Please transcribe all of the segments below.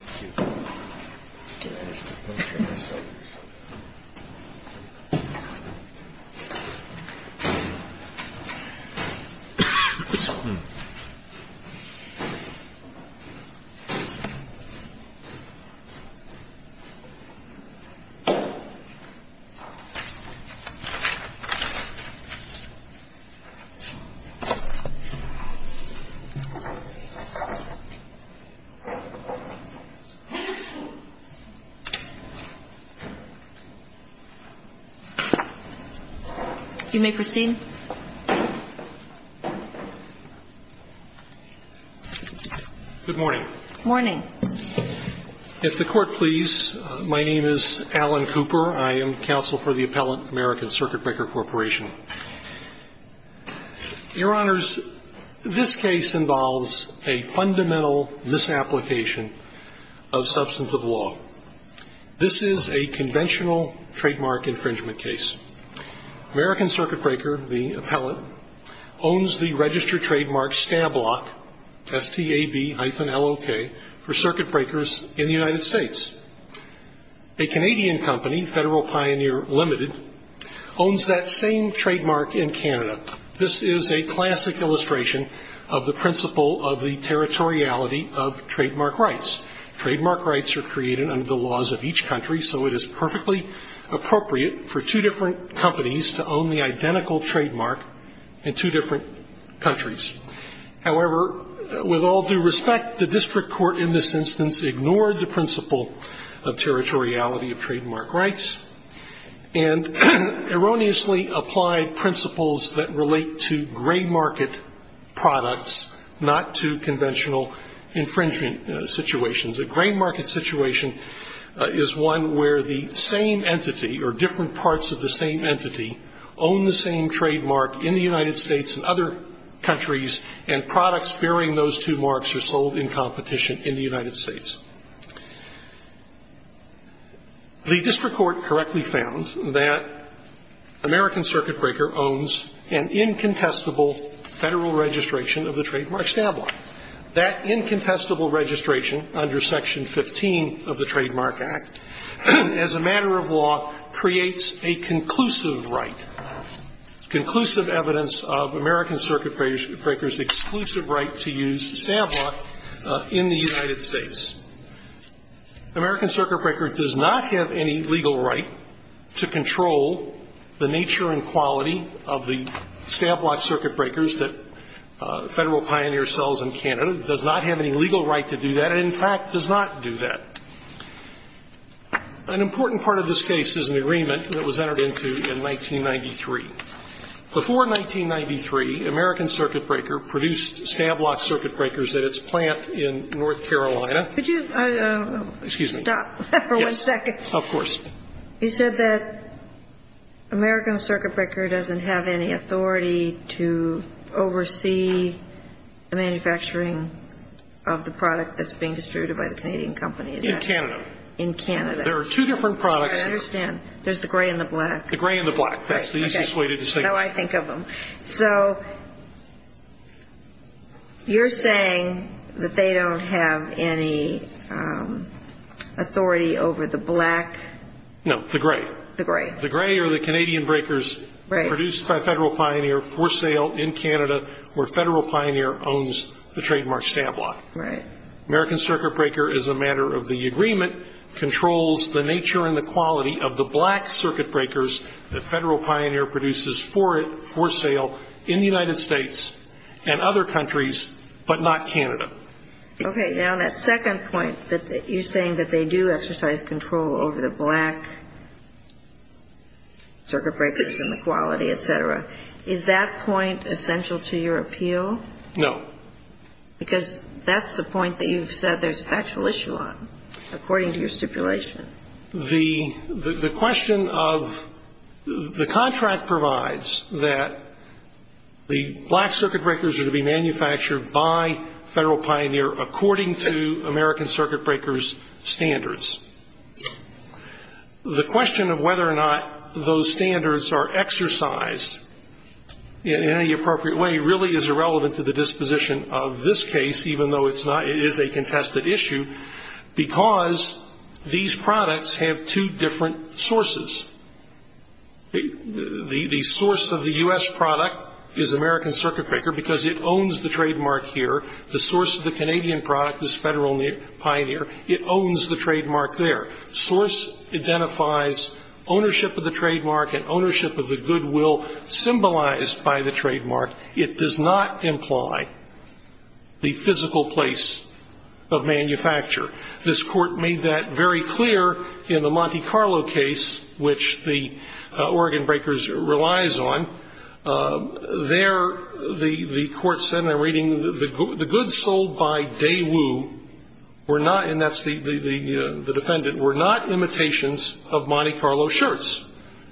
Thank you. Can I just get my cell phone? You may proceed. Good morning. Good morning. If the Court please, my name is Alan Cooper. I am counsel for the Appellant American Circuit Breaker Corporation. Your Honors, this case involves a fundamental misapplication of substantive law. This is a conventional trademark infringement case. American Circuit Breaker, the appellate, owns the register trademark STABLOK, S-T-A-B-L-O-K, for circuit breakers in the United States. A Canadian company, Federal Pioneer Limited, owns that same trademark in Canada. This is a classic illustration of the principle of the territoriality of trademark rights. Trademark rights are created under the laws of each country, so it is perfectly appropriate for two different companies to own the identical trademark in two different countries. However, with all due respect, the district court in this instance ignored the principle of territoriality of trademark rights, and erroneously applied principles that relate to gray market products, not to conventional infringement situations. A gray market situation is one where the same entity or different parts of the same entity own the same trademark in the United States and other countries, and products bearing those two marks are sold in competition in the United States. The district court correctly found that American Circuit Breaker owns an incontestable Federal registration of the trademark STABLOK. That incontestable registration under Section 15 of the Trademark Act, as a matter of law, creates a conclusive right, conclusive evidence of American Circuit Breaker's exclusive right to use STABLOK in the United States. American Circuit Breaker does not have any legal right to control the nature and quality of the STABLOK Circuit Breakers that Federal Pioneer sells in Canada. It does not have any legal right to do that. It, in fact, does not do that. An important part of this case is an agreement that was entered into in 1993. Before 1993, American Circuit Breaker produced STABLOK Circuit Breakers at its plant in North Carolina. Could you stop for one second? Yes, of course. You said that American Circuit Breaker doesn't have any authority to oversee the manufacturing of the product that's being distributed by the Canadian companies. In Canada. In Canada. There are two different products. I understand. There's the gray and the black. The gray and the black. That's the easiest way to distinguish. That's how I think of them. So you're saying that they don't have any authority over the black? No, the gray. The gray. The gray are the Canadian breakers produced by Federal Pioneer for sale in Canada, where Federal Pioneer owns the trademark STABLOK. Right. American Circuit Breaker, as a matter of the agreement, controls the nature and the quality of the black Circuit Breakers that Federal Pioneer produces for sale in the United States and other countries, but not Canada. Okay. Now, that second point that you're saying that they do exercise control over the black Circuit Breakers and the quality, et cetera, is that point essential to your appeal? No. Because that's the point that you've said there's actual issue on, according to your stipulation. The question of the contract provides that the black Circuit Breakers are to be manufactured by Federal Pioneer according to American Circuit Breaker's standards. The question of whether or not those standards are exercised in any appropriate way really is irrelevant to the disposition of this case, even though it is a contested issue, because these products have two different sources. The source of the U.S. product is American Circuit Breaker because it owns the trademark here. The source of the Canadian product is Federal Pioneer. It owns the trademark there. Source identifies ownership of the trademark and ownership of the goodwill symbolized by the trademark. It does not imply the physical place of manufacture. This Court made that very clear in the Monte Carlo case, which the Oregon Breakers relies on. There the Court said in a reading, the goods sold by Daewoo were not, and that's the defendant, were not imitations of Monte Carlo shirts.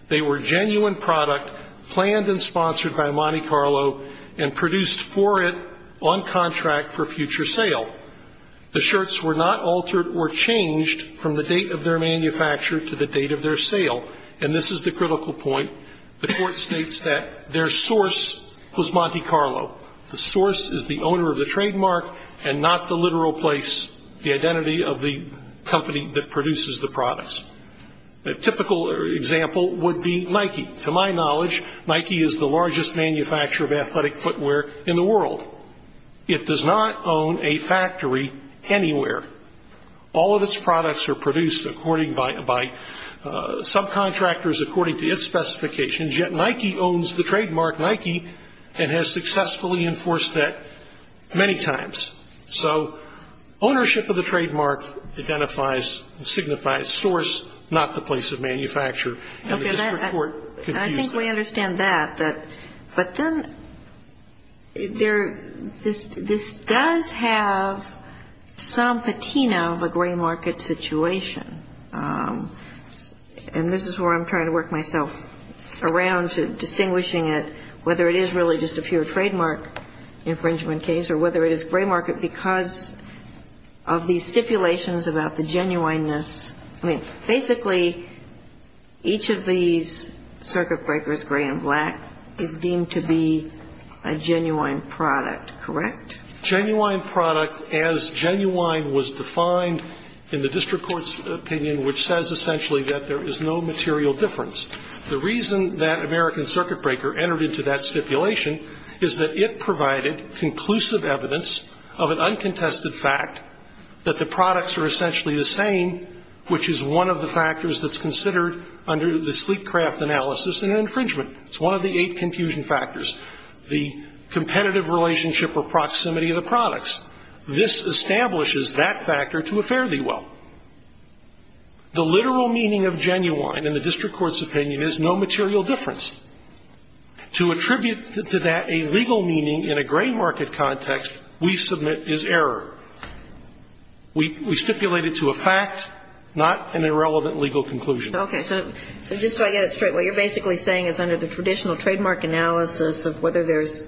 They were genuine product planned and sponsored by Monte Carlo and produced for it on contract for future sale. The shirts were not altered or changed from the date of their manufacture to the date of their sale. And this is the critical point. The Court states that their source was Monte Carlo. The source is the owner of the trademark and not the literal place, the identity of the company that produces the products. A typical example would be Nike. To my knowledge, Nike is the largest manufacturer of athletic footwear in the world. It does not own a factory anywhere. All of its products are produced by subcontractors according to its specifications, yet Nike owns the trademark, Nike, and has successfully enforced that many times. So ownership of the trademark identifies, signifies source, not the place of manufacture. And the district court could use that. I think we understand that. But then there this does have some patina of a gray market situation. And this is where I'm trying to work myself around to distinguishing it, whether it is really just a pure trademark infringement case or whether it is gray market because of these stipulations about the genuineness. I mean, basically, each of these circuit breakers, gray and black, is deemed to be a genuine product, correct? Genuine product, as genuine was defined in the district court's opinion, which says essentially that there is no material difference. The reason that American Circuit Breaker entered into that stipulation is that it provided conclusive evidence of an uncontested fact that the products are essentially the same, which is one of the factors that's considered under the sleek craft analysis in an infringement. It's one of the eight confusion factors, the competitive relationship or proximity of the products. This establishes that factor to a fairly well. The literal meaning of genuine in the district court's opinion is no material difference. To attribute to that a legal meaning in a gray market context we submit is error. We stipulate it to a fact, not an irrelevant legal conclusion. Okay. So just so I get it straight, what you're basically saying is under the traditional trademark analysis of whether there's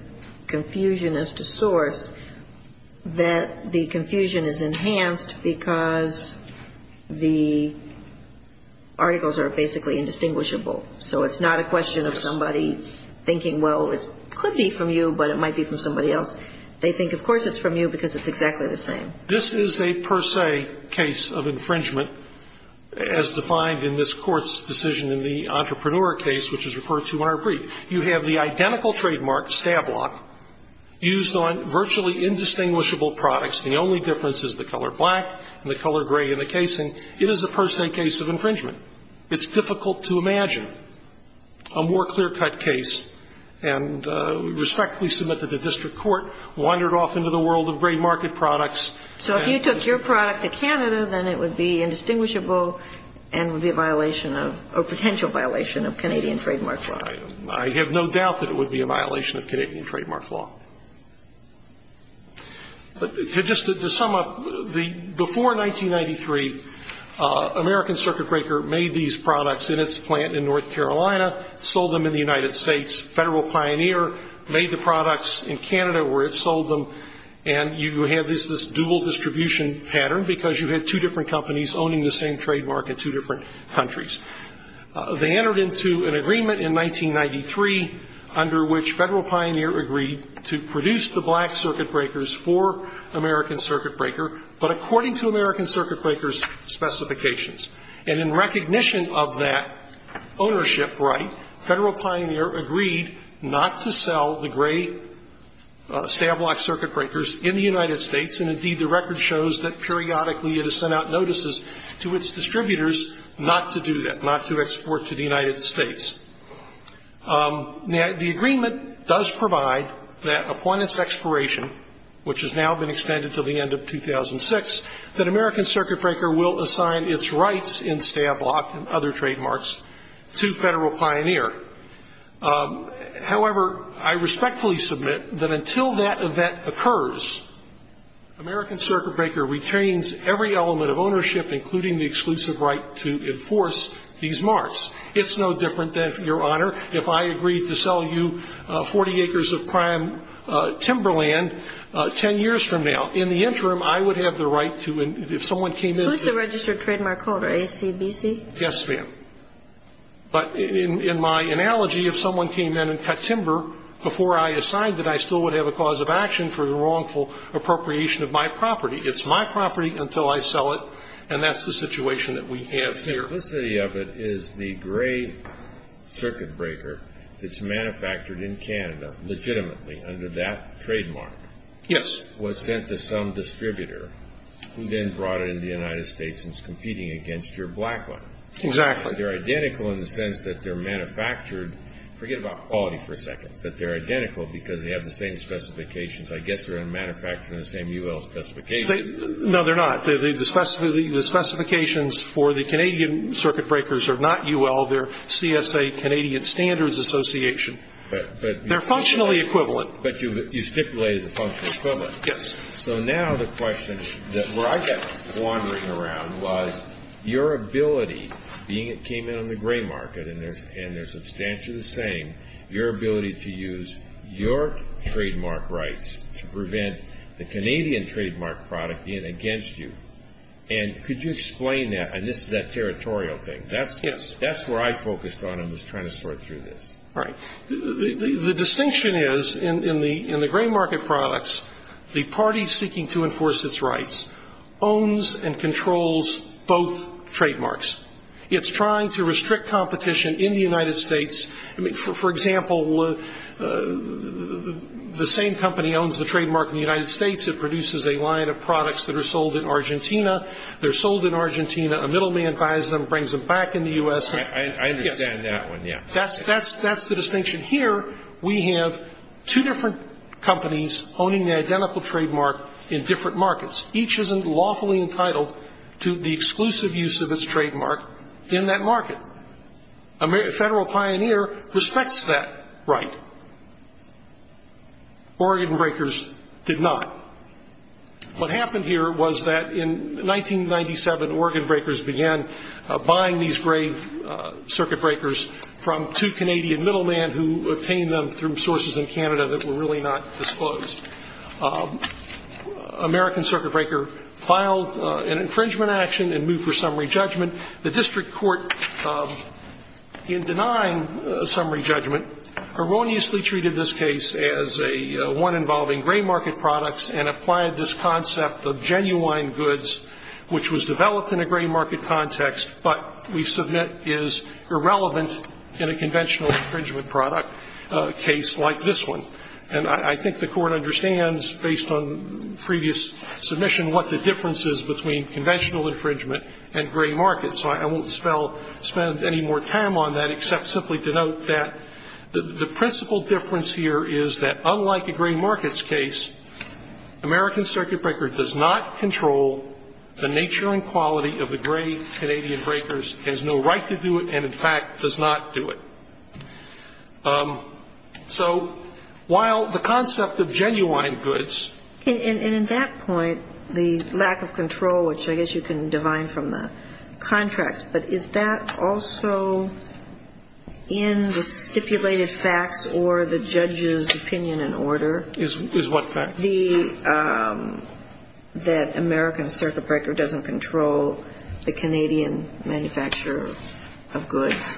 confusion as to source, that the confusion is enhanced because the articles are basically indistinguishable. So it's not a question of somebody thinking, well, it could be from you, but it might be from somebody else. They think, of course, it's from you because it's exactly the same. This is a per se case of infringement as defined in this Court's decision in the Entrepreneur case, which is referred to in our brief. You have the identical trademark, Stablock, used on virtually indistinguishable products. The only difference is the color black and the color gray in the casing. It is a per se case of infringement. It's difficult to imagine a more clear-cut case. And we respectfully submit that the district court wandered off into the world of gray market products. So if you took your product to Canada, then it would be indistinguishable and would be a violation of or potential violation of Canadian trademark law. I have no doubt that it would be a violation of Canadian trademark law. Just to sum up, before 1993, American Circuit Breaker made these products in its plant in North Carolina, sold them in the United States. Federal Pioneer made the products in Canada where it sold them. And you have this dual distribution pattern because you had two different companies owning the same trademark in two different countries. They entered into an agreement in 1993 under which Federal Pioneer agreed to produce the black Circuit Breakers for American Circuit Breaker, but according to American Circuit Breaker's specifications. And in recognition of that ownership right, Federal Pioneer agreed not to sell the gray Stablock Circuit Breakers in the United States. And, indeed, the record shows that periodically it has sent out notices to its client not to export to the United States. Now, the agreement does provide that upon its expiration, which has now been extended until the end of 2006, that American Circuit Breaker will assign its rights in Stablock and other trademarks to Federal Pioneer. However, I respectfully submit that until that event occurs, American Circuit Breaker retains every element of ownership, including the exclusive right to enforce these marks. It's no different than, Your Honor, if I agreed to sell you 40 acres of prime timberland 10 years from now. In the interim, I would have the right to, if someone came in to. Who's the registered trademark holder, AACBC? Yes, ma'am. But in my analogy, if someone came in and cut timber before I assigned it, I still would have a cause of action for the wrongful appropriation of my property. It's my property until I sell it, and that's the situation that we have here. The simplicity of it is the gray Circuit Breaker that's manufactured in Canada legitimately under that trademark. Yes. Was sent to some distributor who then brought it into the United States and is competing against your black one. Exactly. They're identical in the sense that they're manufactured. Forget about quality for a second, but they're identical because they have the same specifications. I guess they're manufactured in the same UL specifications. No, they're not. The specifications for the Canadian Circuit Breakers are not UL. They're CSA, Canadian Standards Association. They're functionally equivalent. But you stipulated the functional equivalent. Yes. So now the question that I got wandering around was your ability, being it came in on the gray market and they're substantially the same, your ability to use your trademark product against you. And could you explain that? And this is that territorial thing. Yes. That's where I focused on when I was trying to sort through this. Right. The distinction is in the gray market products, the party seeking to enforce its rights owns and controls both trademarks. It's trying to restrict competition in the United States. For example, the same company owns the trademark in the United States. It produces a line of products that are sold in Argentina. They're sold in Argentina. A middleman buys them, brings them back in the U.S. I understand that one, yeah. That's the distinction. Here we have two different companies owning the identical trademark in different markets. Each is lawfully entitled to the exclusive use of its trademark in that market. A federal pioneer respects that right. Organ breakers did not. What happened here was that in 1997, organ breakers began buying these gray circuit breakers from two Canadian middlemen who obtained them through sources in Canada that were really not disclosed. American circuit breaker filed an infringement action and moved for summary judgment. The district court, in denying a summary judgment, erroneously treated this case as one involving gray market products and applied this concept of genuine goods which was developed in a gray market context, but we submit is irrelevant in a conventional infringement product case like this one. And I think the Court understands, based on previous submission, what the difference is between conventional infringement and gray market. So I won't spend any more time on that except simply to note that the principal difference here is that, unlike a gray markets case, American circuit breaker does not control the nature and quality of the gray Canadian breakers, has no right to do it, and, in fact, does not do it. So while the concept of genuine goods. And in that point, the lack of control, which I guess you can divine from the contracts, but is that also in the stipulated facts or the judge's opinion and order? Is what fact? That American circuit breaker doesn't control the Canadian manufacture of goods.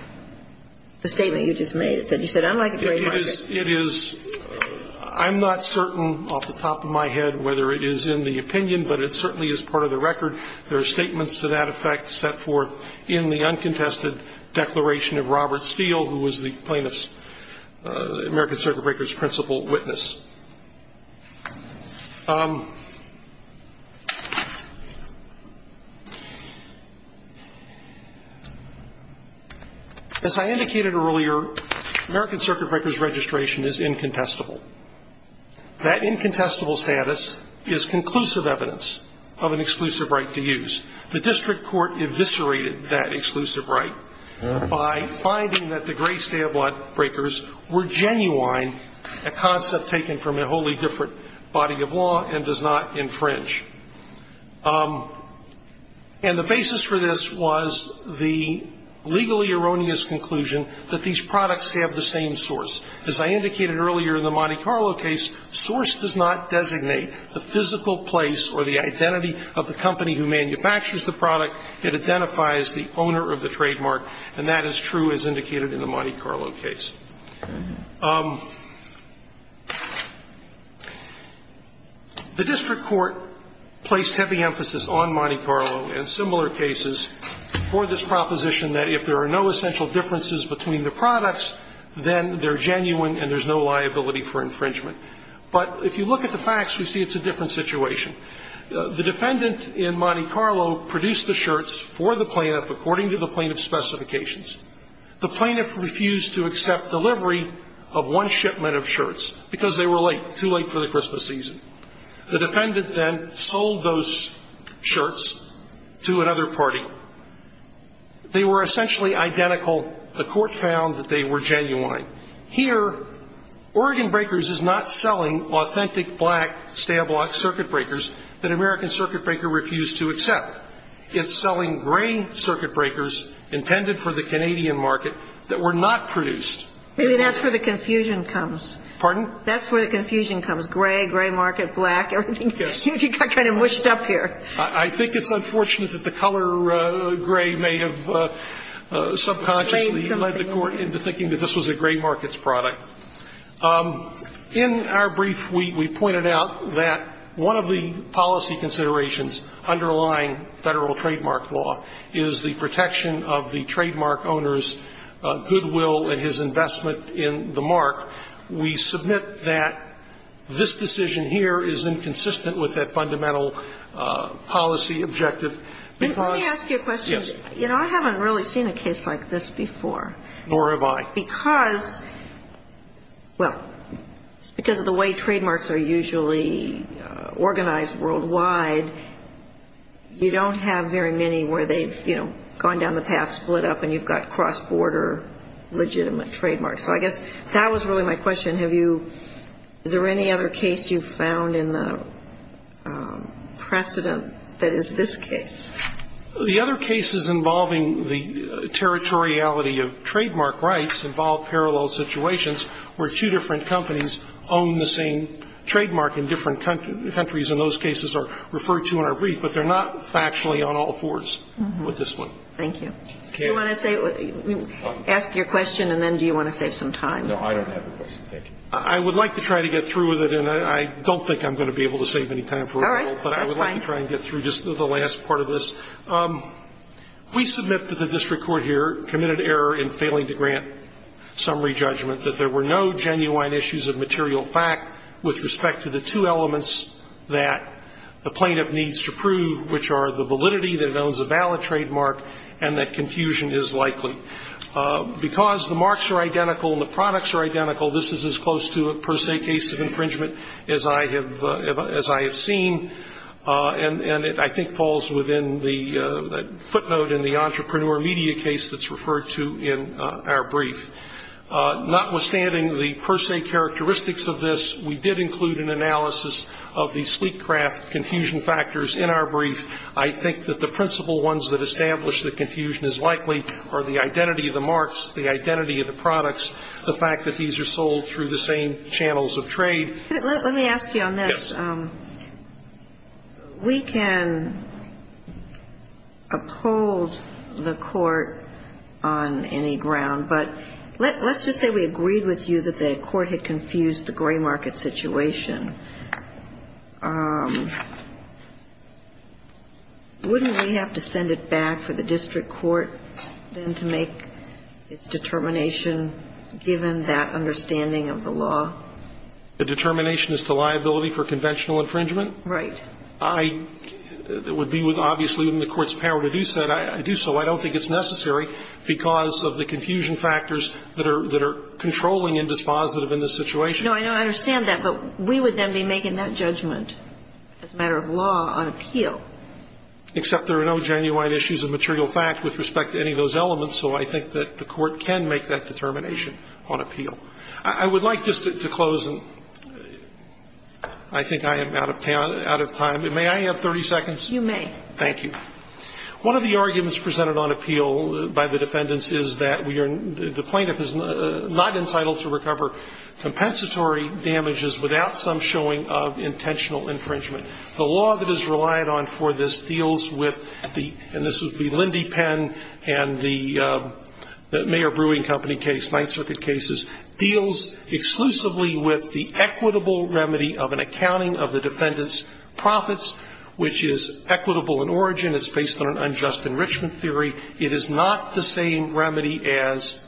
The statement you just made, you said unlike a gray market. I'm not certain off the top of my head whether it is in the opinion, but it certainly is part of the record. There are statements to that effect set forth in the uncontested declaration of Robert Steele, who was the plaintiff's American circuit breaker's principal witness. As I indicated earlier, American circuit breaker's registration is incontestable. That incontestable status is conclusive evidence of an exclusive right to use. The district court eviscerated that exclusive right by finding that the gray stay of were genuine, a concept taken from a wholly different body of law and does not infringe. And the basis for this was the legally erroneous conclusion that these products have the same source. As I indicated earlier in the Monte Carlo case, source does not designate the physical place or the identity of the company who manufactures the product. It identifies the owner of the trademark, and that is true as indicated in the Monte Carlo case. The district court placed heavy emphasis on Monte Carlo and similar cases for this proposition that if there are no essential differences between the products, then they're genuine and there's no liability for infringement. But if you look at the facts, we see it's a different situation. The defendant in Monte Carlo produced the shirts for the plaintiff according to the plaintiff's specifications. The plaintiff refused to accept delivery of one shipment of shirts because they were late, too late for the Christmas season. The defendant then sold those shirts to another party. They were essentially identical. The court found that they were genuine. Here, Oregon Breakers is not selling authentic black Stablock circuit breakers that American Circuit Breaker refused to accept. It's selling gray circuit breakers intended for the Canadian market that were not produced. Maybe that's where the confusion comes. Pardon? That's where the confusion comes, gray, gray market, black, everything. Yes. You got kind of mushed up here. I think it's unfortunate that the color gray may have subconsciously led the court into thinking that this was a gray markets product. In our brief, we pointed out that one of the policy considerations underlying Federal trademark law is the protection of the trademark owner's goodwill and his investment in the mark. We submit that this decision here is inconsistent with that fundamental policy objective because yes. Let me ask you a question. You know, I haven't really seen a case like this before. Nor have I. Because, well, because of the way trademarks are usually organized worldwide, you don't have very many where they've, you know, gone down the path, split up, and you've got cross-border legitimate trademarks. So I guess that was really my question. Is there any other case you've found in the precedent that is this case? The other cases involving the territoriality of trademark rights involve parallel situations where two different companies own the same trademark in different countries, and those cases are referred to in our brief. But they're not factually on all fours with this one. Thank you. Do you want to say, ask your question, and then do you want to save some time? No, I don't have a question. Thank you. I would like to try to get through with it, and I don't think I'm going to be able to save any time for it. That's fine. I'll try and get through just the last part of this. We submit that the district court here committed error in failing to grant summary judgment, that there were no genuine issues of material fact with respect to the two elements that the plaintiff needs to prove, which are the validity, that it owns a valid trademark, and that confusion is likely. Because the marks are identical and the products are identical, this is as close to a per se case of infringement as I have seen. And it, I think, falls within the footnote in the entrepreneur media case that's referred to in our brief. Notwithstanding the per se characteristics of this, we did include an analysis of the sleek craft confusion factors in our brief. I think that the principal ones that establish that confusion is likely are the identity of the marks, the identity of the products, the fact that these are sold through the same channels of trade. Let me ask you on this. Yes. We can uphold the Court on any ground, but let's just say we agreed with you that the Court had confused the gray market situation. Wouldn't we have to send it back for the district court then to make its determination given that understanding of the law? The determination as to liability for conventional infringement? Right. I would be with, obviously, within the Court's power to do so. I do so. I don't think it's necessary because of the confusion factors that are controlling and dispositive in this situation. No, I understand that, but we would then be making that judgment as a matter of law on appeal. Except there are no genuine issues of material fact with respect to any of those elements, so I think that the Court can make that determination on appeal. I would like just to close, and I think I am out of time. May I have 30 seconds? You may. Thank you. One of the arguments presented on appeal by the defendants is that we are the plaintiff is not entitled to recover compensatory damages without some showing of intentional infringement. The law that is relied on for this deals with the, and this would be Lindy Penn and the Mayor Brewing Company case, Ninth Circuit cases, deals exclusively with the equitable remedy of an accounting of the defendant's profits, which is equitable in origin. It's based on an unjust enrichment theory. It is not the same remedy as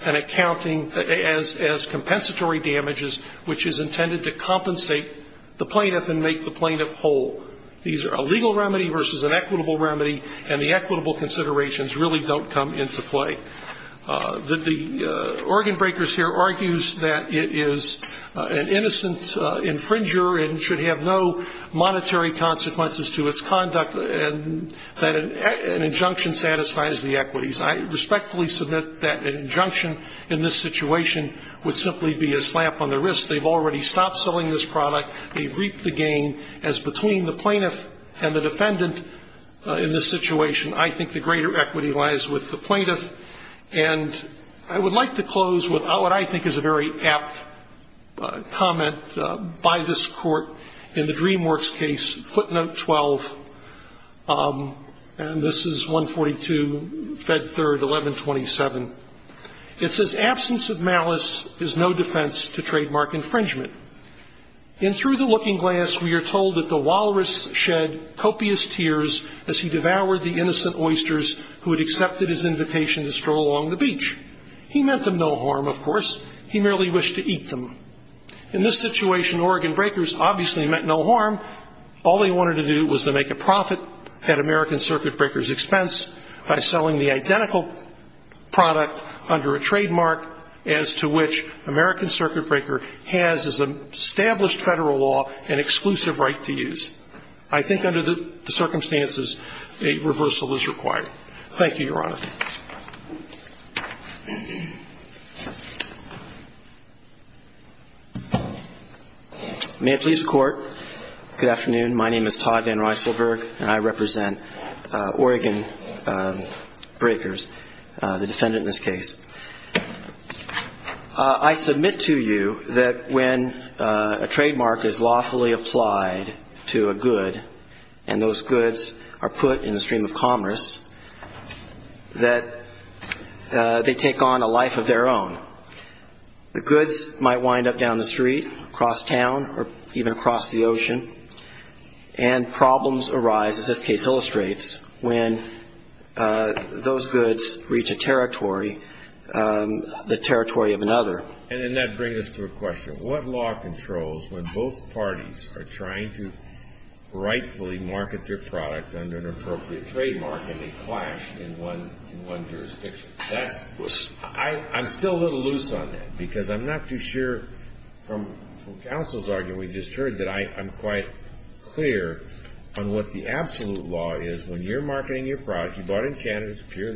an accounting, as compensatory damages, which is intended to compensate the plaintiff and make the plaintiff whole. These are a legal remedy versus an equitable remedy, and the equitable considerations really don't come into play. The organ breakers here argues that it is an innocent infringer and should have no monetary consequences to its conduct, and that an injunction satisfies the equities. I respectfully submit that an injunction in this situation would simply be a slap on the wrist. They've already stopped selling this product. They've reaped the gain. As between the plaintiff and the defendant in this situation, I think the greater equity lies with the plaintiff. And I would like to close with what I think is a very apt comment by this Court in the DreamWorks case, footnote 12, and this is 142, Fed 3rd, 1127. It says, absence of malice is no defense to trademark infringement. In Through the Looking Glass, we are told that the walrus shed copious tears as he devoured the innocent oysters who had accepted his invitation to stroll along the beach. He meant them no harm, of course. He merely wished to eat them. In this situation, organ breakers obviously meant no harm. All they wanted to do was to make a profit at American Circuit breakers' expense by selling the identical product under a trademark as to which American Circuit breaker has as an established Federal law an exclusive right to use. I think under the circumstances, a reversal is required. Thank you, Your Honor. May it please the Court. Good afternoon. My name is Todd VanRyselburg, and I represent organ breakers, the defendant in this case. I submit to you that when a trademark is lawfully applied to a good and those goods are put in the stream of commerce, that they take on a life of their own. The goods might wind up down the street, across town, or even across the ocean, and problems arise, as this case illustrates, when those goods reach a territory, the territory of another. And then that brings us to a question. What law controls when both parties are trying to rightfully market their product under an appropriate trademark and they clash in one jurisdiction? I'm still a little loose on that because I'm not too sure, from counsel's argument we just heard, that I'm quite clear on what the absolute law is. When you're marketing your product, you bought it in Canada. It's pure.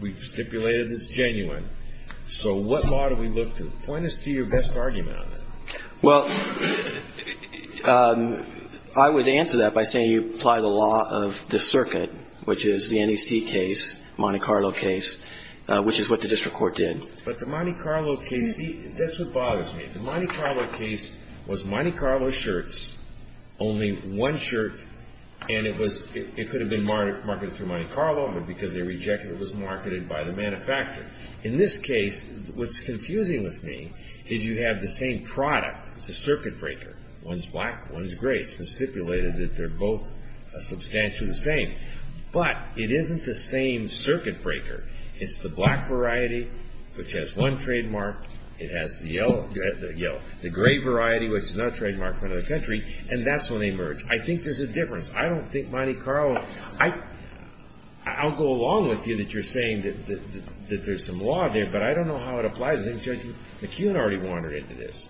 We've stipulated it's genuine. So what law do we look to? Point us to your best argument on that. Well, I would answer that by saying you apply the law of the circuit, which is the NEC case, Monte Carlo case, which is what the district court did. But the Monte Carlo case, see, that's what bothers me. The Monte Carlo case was Monte Carlo shirts, only one shirt, and it could have been marketed through Monte Carlo, but because they rejected it, it was marketed by the manufacturer. In this case, what's confusing with me is you have the same product. It's a circuit breaker. One's black, one's gray. It's been stipulated that they're both substantially the same. But it isn't the same circuit breaker. It's the black variety, which has one trademark. It has the yellow, the gray variety, which is not a trademark for another country, and that's when they merge. I think there's a difference. I don't think Monte Carlo, I'll go along with you that you're saying that there's some law there, but I don't know how it applies. I think Judge McKeon already wandered into this.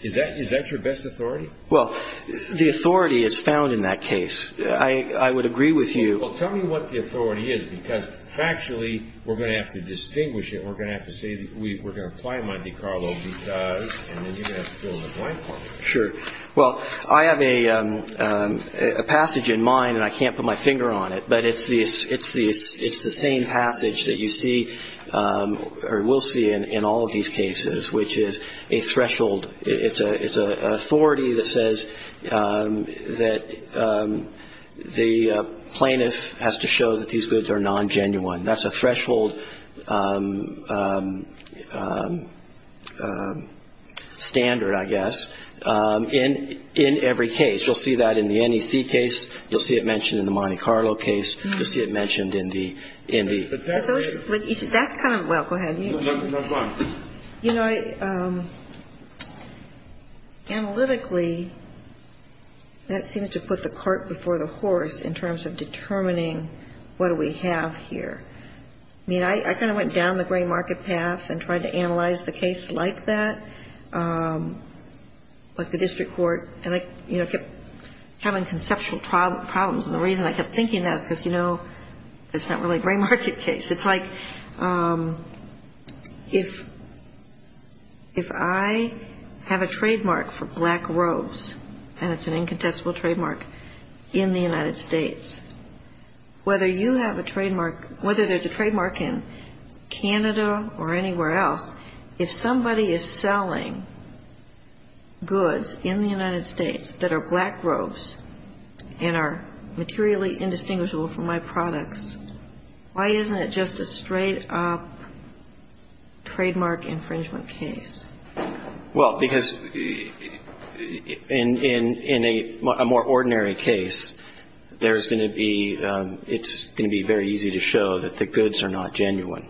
Is that your best authority? Well, the authority is found in that case. I would agree with you. Well, tell me what the authority is, because factually we're going to have to distinguish it. We're going to have to say that we're going to apply Monte Carlo because, and then you're going to have to fill in the blank part. Sure. Well, I have a passage in mind, and I can't put my finger on it, but it's the same passage that you see or will see in all of these cases, which is a threshold. It's an authority that says that the plaintiff has to show that these goods are non-genuine. That's a threshold standard, I guess, in every case. You'll see that in the NEC case. You'll see it mentioned in the Monte Carlo case. You'll see it mentioned in the – in the – That's kind of – well, go ahead. No, go on. You know, I – analytically, that seems to put the cart before the horse in terms of determining what do we have here. I mean, I kind of went down the gray market path and tried to analyze the case like that, like the district court, and I, you know, kept having conceptual problems. And the reason I kept thinking that is because, you know, it's not really a gray market case. It's like if – if I have a trademark for black robes, and it's an incontestable trademark in the United States, whether you have a trademark – whether there's a trademark in Canada or anywhere else, if somebody is selling goods in the United States that are black robes and are materially indistinguishable from my products, why isn't it just a straight-up trademark infringement case? Well, because in a more ordinary case, there's going to be – it's going to be very easy to show that the goods are not genuine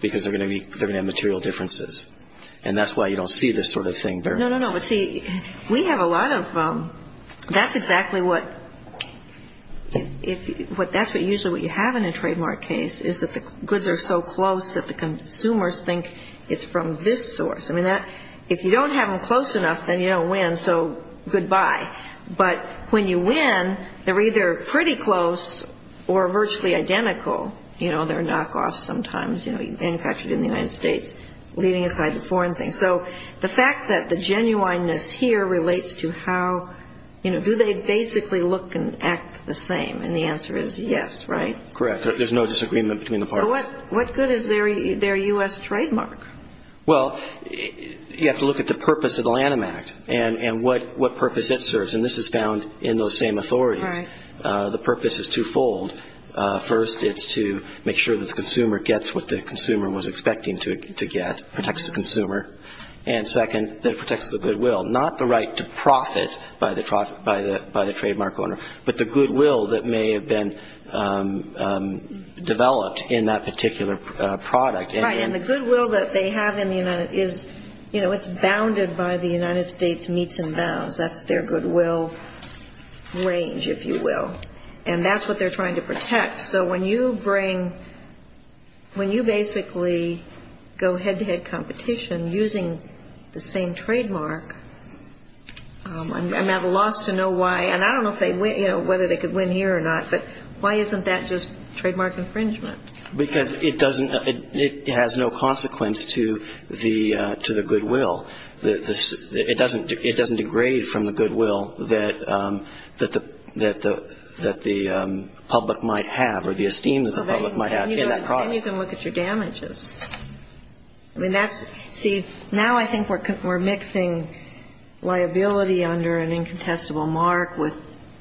because they're going to be – they're going to have material differences. And that's why you don't see this sort of thing there. No, no, no. But see, we have a lot of – that's exactly what – if – what – that's usually what you have in a trademark case is that the goods are so close that the consumers think it's from this source. I mean, that – if you don't have them close enough, then you don't win, so goodbye. But when you win, they're either pretty close or virtually identical. You know, they're knockoffs sometimes, you know, manufactured in the United States, leaving aside the foreign things. So the fact that the genuineness here relates to how – you know, do they basically look and act the same? And the answer is yes, right? Correct. There's no disagreement between the parties. So what good is their U.S. trademark? Well, you have to look at the purpose of the Lanham Act and what purpose it serves. And this is found in those same authorities. Right. The purpose is twofold. First, it's to make sure that the consumer gets what the consumer was expecting to get, that protects the consumer. And second, that it protects the goodwill, not the right to profit by the trademark owner, but the goodwill that may have been developed in that particular product. Right. And the goodwill that they have in the United – is, you know, it's bounded by the United States meets and bounds. That's their goodwill range, if you will. And that's what they're trying to protect. So when you bring – when you basically go head-to-head competition using the same trademark, I'm at a loss to know why – and I don't know if they – you know, whether they could win here or not, but why isn't that just trademark infringement? Because it doesn't – it has no consequence to the goodwill. It doesn't – it doesn't degrade from the goodwill that the – that the public might have or the esteem that the public might have in that product. And you can look at your damages. I mean, that's – see, now I think we're mixing liability under an incontestable mark with,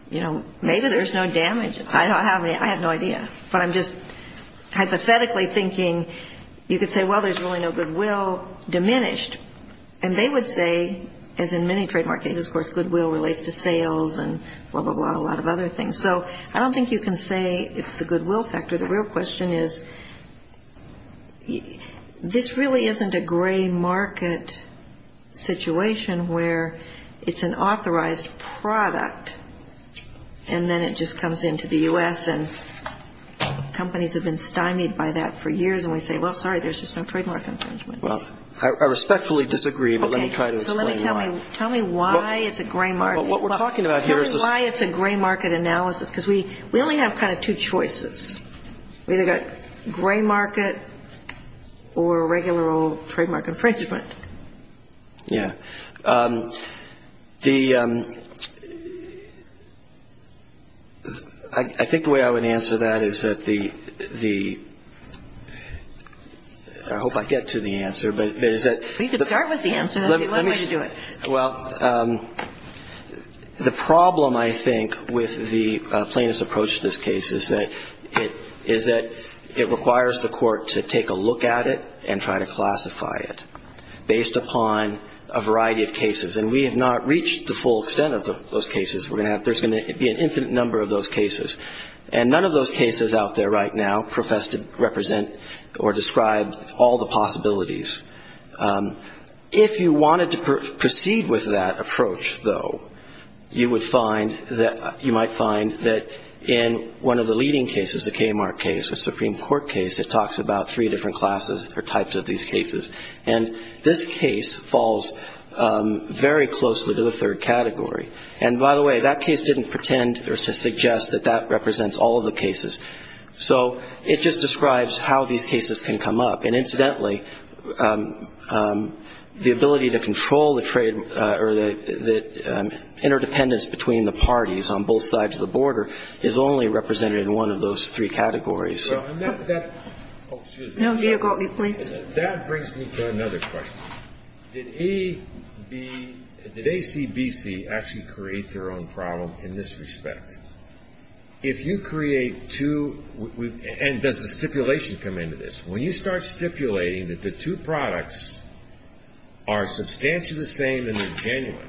you know, maybe there's no damages. I don't have any. I have no idea. But I'm just hypothetically thinking you could say, well, there's really no goodwill diminished. And they would say, as in many trademark cases, of course, goodwill relates to sales and blah, blah, blah, a lot of other things. So I don't think you can say it's the goodwill factor. The real question is this really isn't a gray market situation where it's an authorized product and then it just comes into the U.S. And companies have been stymied by that for years. And we say, well, sorry, there's just no trademark infringement. Well, I respectfully disagree, but let me try to explain why. Okay. So let me tell me – tell me why it's a gray market. Well, what we're talking about here is this – Tell me why it's a gray market analysis because we only have kind of two choices. We've either got gray market or regular old trademark infringement. Yeah. The – I think the way I would answer that is that the – I hope I get to the answer. But is that – Well, you can start with the answer. That would be one way to do it. Well, the problem, I think, with the plaintiff's approach to this case is that it requires the court to take a look at it and try to classify it based upon a variety of cases. And we have not reached the full extent of those cases. We're going to have – there's going to be an infinite number of those cases. And none of those cases out there right now profess to represent or describe all the possibilities. If you wanted to proceed with that approach, though, you would find that – you might find that in one of the leading cases, the Kmart case, the Supreme Court case, it talks about three different classes or types of these cases. And this case falls very closely to the third category. And, by the way, that case didn't pretend or suggest that that represents all of the cases. So it just describes how these cases can come up. And, incidentally, the ability to control the trade or the interdependence between the parties on both sides of the border is only represented in one of those three categories. And that brings me to another question. Did ACBC actually create their own problem in this respect? If you create two – and does the stipulation come into this? When you start stipulating that the two products are substantially the same and they're genuine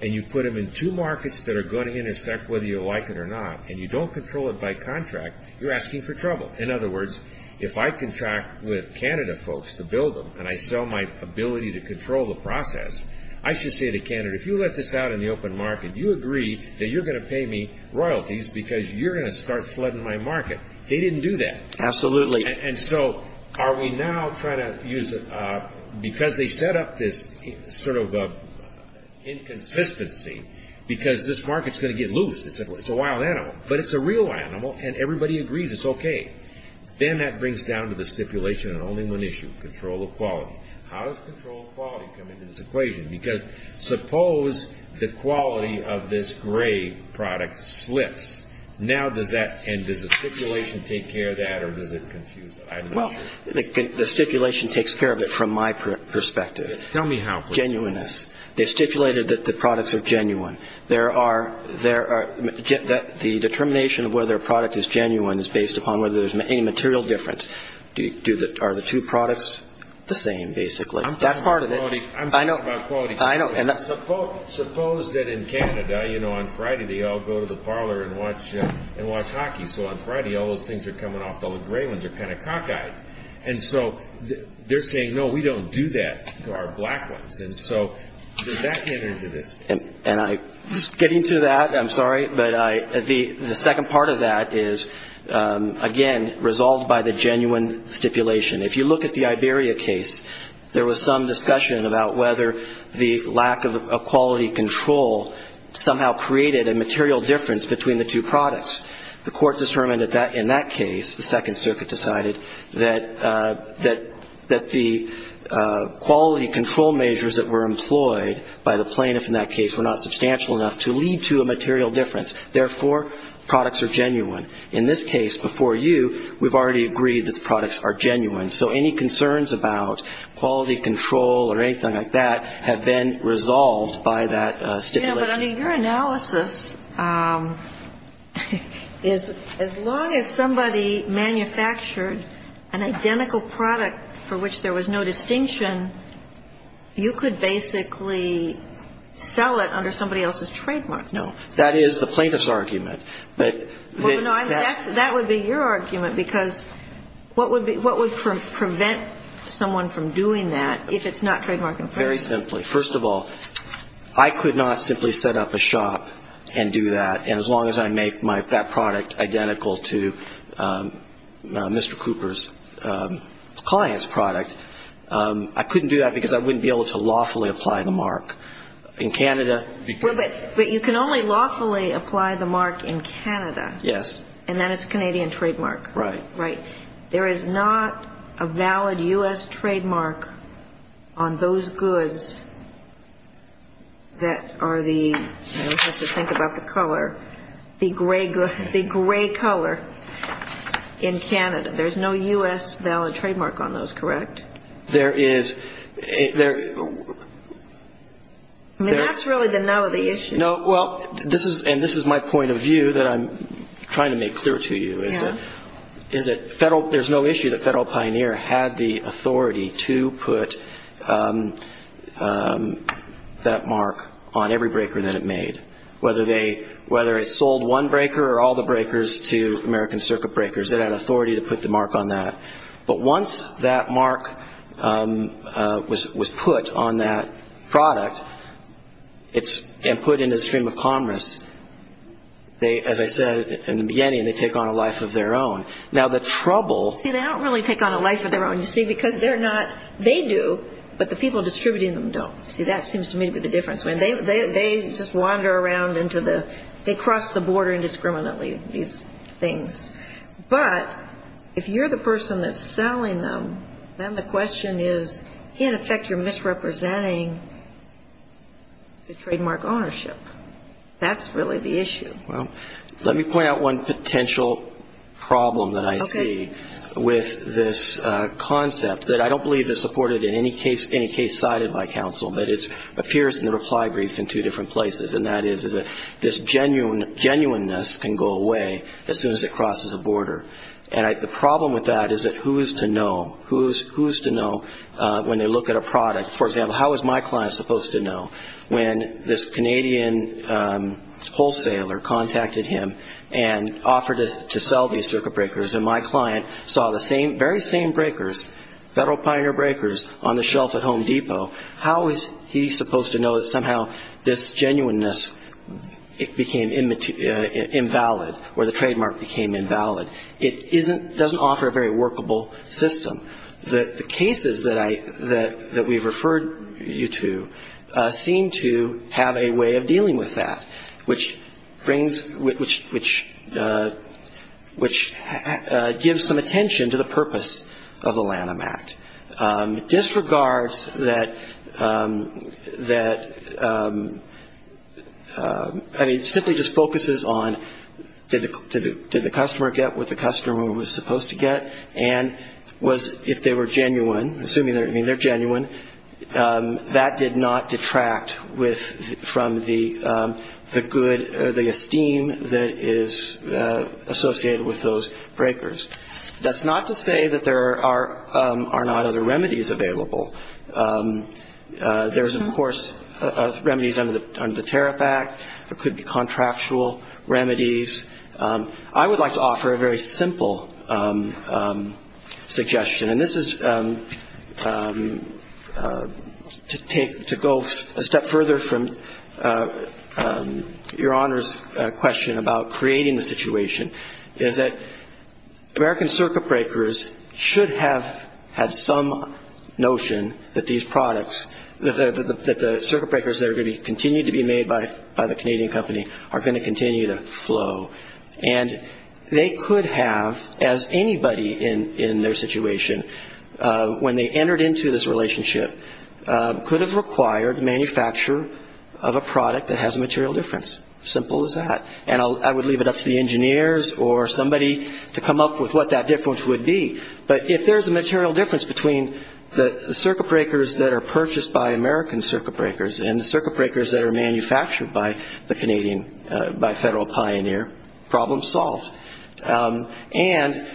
and you put them in two markets that are going to intersect whether you like it or not and you don't control it by contract, you're asking for trouble. In other words, if I contract with Canada folks to build them and I sell my ability to control the process, I should say to Canada, if you let this out in the open market, you agree that you're going to pay me royalties because you're going to start flooding my market. They didn't do that. Absolutely. And so are we now trying to use – because they set up this sort of inconsistency because this market's going to get loose. It's a wild animal. But it's a real animal and everybody agrees it's okay. Then that brings down to the stipulation on only one issue, control of quality. How does control of quality come into this equation? Because suppose the quality of this gray product slips. Now does that – and does the stipulation take care of that or does it confuse – Well, the stipulation takes care of it from my perspective. Tell me how, please. Genuineness. Genuineness. They stipulated that the products are genuine. The determination of whether a product is genuine is based upon whether there's any material difference. Are the two products the same basically? That's part of it. I'm talking about quality. I know. Suppose that in Canada, you know, on Friday they all go to the parlor and watch hockey. So on Friday all those things are coming off, all the gray ones are kind of cockeyed. And so they're saying, no, we don't do that to our black ones. And so does that get into this? Getting to that, I'm sorry, but the second part of that is, again, resolved by the genuine stipulation. If you look at the Iberia case, there was some discussion about whether the lack of quality control somehow created a material difference between the two products. The court determined in that case, the Second Circuit decided, that the quality control measures that were employed by the plaintiff in that case were not substantial enough to lead to a material difference. Therefore, products are genuine. In this case, before you, we've already agreed that the products are genuine. So any concerns about quality control or anything like that have been resolved by that stipulation. You know, but under your analysis, as long as somebody manufactured an identical product for which there was no distinction, you could basically sell it under somebody else's trademark. No. That is the plaintiff's argument. That would be your argument, because what would prevent someone from doing that if it's not trademark infringement? Very simply. First of all, I could not simply set up a shop and do that, and as long as I make that product identical to Mr. Cooper's client's product, I couldn't do that because I wouldn't be able to lawfully apply the mark. In Canada, you can. But you can only lawfully apply the mark in Canada. Yes. And then it's Canadian trademark. Right. There is not a valid U.S. trademark on those goods that are the, you know, you have to think about the color, the gray color in Canada. There's no U.S. valid trademark on those, correct? There is. I mean, that's really the nut of the issue. And this is my point of view that I'm trying to make clear to you, is that there's no issue that Federal Pioneer had the authority to put that mark on every breaker that it made, whether it sold one breaker or all the breakers to American Circuit breakers. It had authority to put the mark on that. But once that mark was put on that product and put into the stream of commerce, they, as I said in the beginning, they take on a life of their own. Now, the trouble. See, they don't really take on a life of their own, you see, because they're not, they do, but the people distributing them don't. See, that seems to me to be the difference. They just wander around into the, they cross the border indiscriminately, these things. But if you're the person that's selling them, then the question is, in effect, you're misrepresenting the trademark ownership. That's really the issue. Well, let me point out one potential problem that I see with this concept that I don't believe is supported in any case, any case cited by counsel, but it appears in the reply brief in two different places, and that is that this genuineness can go away as soon as it crosses a border. And the problem with that is that who is to know? Who is to know when they look at a product? For example, how is my client supposed to know? When this Canadian wholesaler contacted him and offered to sell these circuit breakers, and my client saw the very same breakers, Federal Pioneer breakers, on the shelf at Home Depot, how is he supposed to know that somehow this genuineness became invalid or the trademark became invalid? It doesn't offer a very workable system. The cases that I, that we've referred you to seem to have a way of dealing with that, which brings, which gives some attention to the purpose of the Lanham Act. It disregards that, I mean, it simply just focuses on did the customer get what the customer was supposed to get, and if they were genuine, assuming they're genuine, that did not detract from the good, the esteem that is associated with those breakers. That's not to say that there are not other remedies available. There's, of course, remedies under the Tariff Act. There could be contractual remedies. I would like to offer a very simple suggestion, and this is to take, to go a step further from Your Honor's question about creating the situation, is that American circuit breakers should have had some notion that these products, that the circuit breakers that are going to continue to be made by the Canadian company are going to continue to flow. And they could have, as anybody in their situation, when they entered into this relationship, could have required manufacture of a product that has a material difference. Simple as that. And I would leave it up to the engineers or somebody to come up with what that difference would be. But if there's a material difference between the circuit breakers that are purchased by American circuit breakers and the circuit breakers that are manufactured by the Canadian, by Federal Pioneer, problem solved. And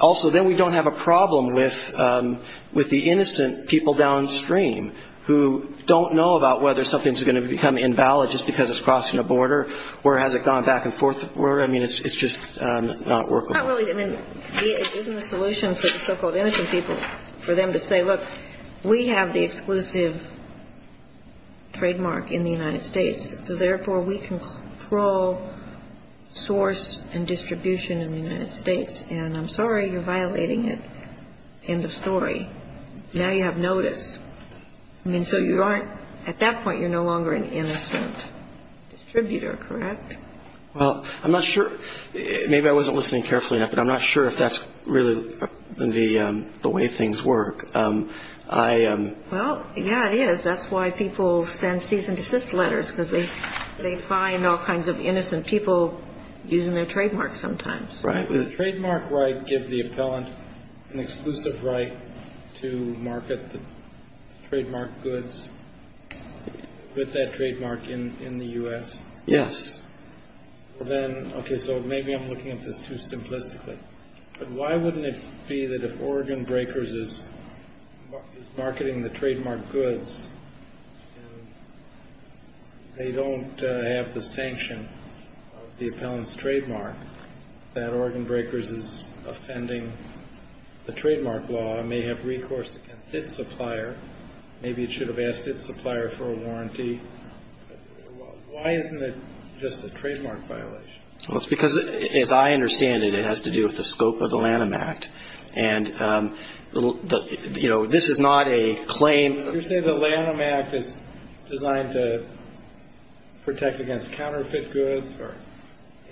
also then we don't have a problem with the innocent people downstream who don't know about whether something's going to become invalid just because it's crossing a border or has it gone back and forth. I mean, it's just not workable. Not really. I mean, isn't the solution for the so-called innocent people for them to say, look, we have the exclusive trademark in the United States, so therefore we control source and distribution in the United States, and I'm sorry you're violating it, end of story. Now you have notice. I mean, so at that point you're no longer an innocent distributor, correct? Well, I'm not sure. Maybe I wasn't listening carefully enough, but I'm not sure if that's really the way things work. Well, yeah, it is. That's why people send cease and desist letters, because they find all kinds of innocent people using their trademark sometimes. Does the trademark right give the appellant an exclusive right to market the trademark goods with that trademark in the U.S.? Yes. Okay, so maybe I'm looking at this too simplistically, but why wouldn't it be that if Oregon Breakers is marketing the trademark goods, and they don't have the sanction of the appellant's trademark, that Oregon Breakers is offending the trademark law and may have recourse against its supplier? Maybe it should have asked its supplier for a warranty. Why isn't it just a trademark violation? Well, it's because, as I understand it, it has to do with the scope of the Lanham Act. And, you know, this is not a claim. You say the Lanham Act is designed to protect against counterfeit goods or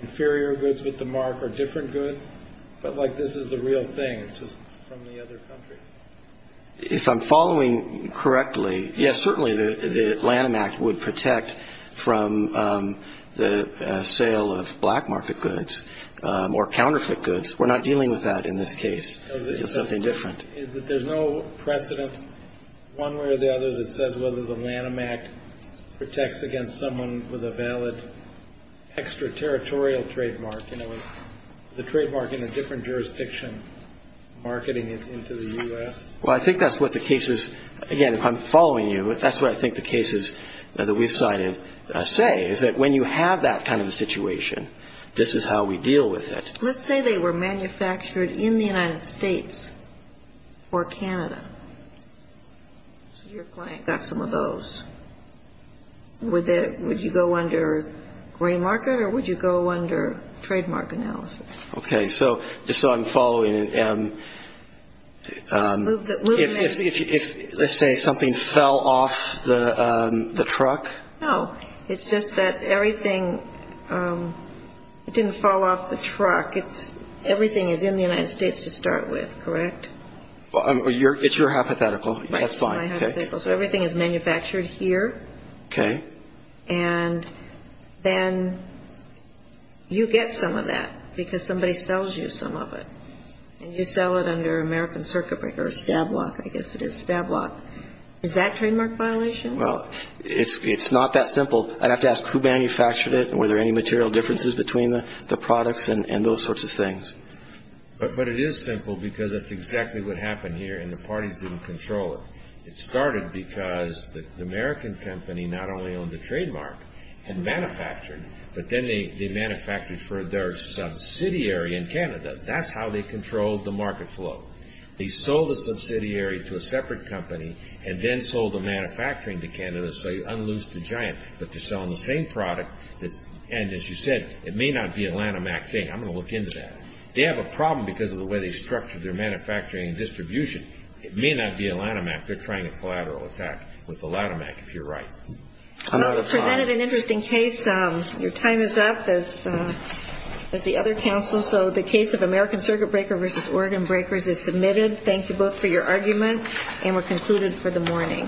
inferior goods with the mark or different goods, but, like, this is the real thing, just from the other countries. If I'm following correctly, yes, certainly the Lanham Act would protect from the sale of black market goods or counterfeit goods. We're not dealing with that in this case. It's something different. The point is that there's no precedent one way or the other that says whether the Lanham Act protects against someone with a valid extraterritorial trademark, you know, the trademark in a different jurisdiction marketing it into the U.S.? Well, I think that's what the cases, again, if I'm following you, that's what I think the cases that we've cited say, is that when you have that kind of a situation, this is how we deal with it. Let's say they were manufactured in the United States or Canada. Your client got some of those. Would you go under gray market or would you go under trademark analysis? Okay. So just so I'm following, if, let's say, something fell off the truck? No. It's just that everything didn't fall off the truck. Everything is in the United States to start with, correct? It's your hypothetical. That's fine. My hypothetical. So everything is manufactured here. Okay. And then you get some of that because somebody sells you some of it. And you sell it under American Circuit Breaker or STAB lock. I guess it is STAB lock. Is that trademark violation? Well, it's not that simple. I'd have to ask who manufactured it and were there any material differences between the products and those sorts of things. But it is simple because that's exactly what happened here and the parties didn't control it. It started because the American company not only owned the trademark and manufactured, but then they manufactured for their subsidiary in Canada. That's how they controlled the market flow. They sold the subsidiary to a separate company and then sold the manufacturing to Canada so you unloosed the giant. But they're selling the same product. And, as you said, it may not be a Lanhamac thing. I'm going to look into that. They have a problem because of the way they structured their manufacturing and distribution. It may not be a Lanhamac. They're trying a collateral attack with the Lanhamac, if you're right. You presented an interesting case. Your time is up, as the other counsel. The case of American Circuit Breaker v. Oregon Breakers is submitted. Thank you both for your argument, and we're concluded for the morning. Thank you.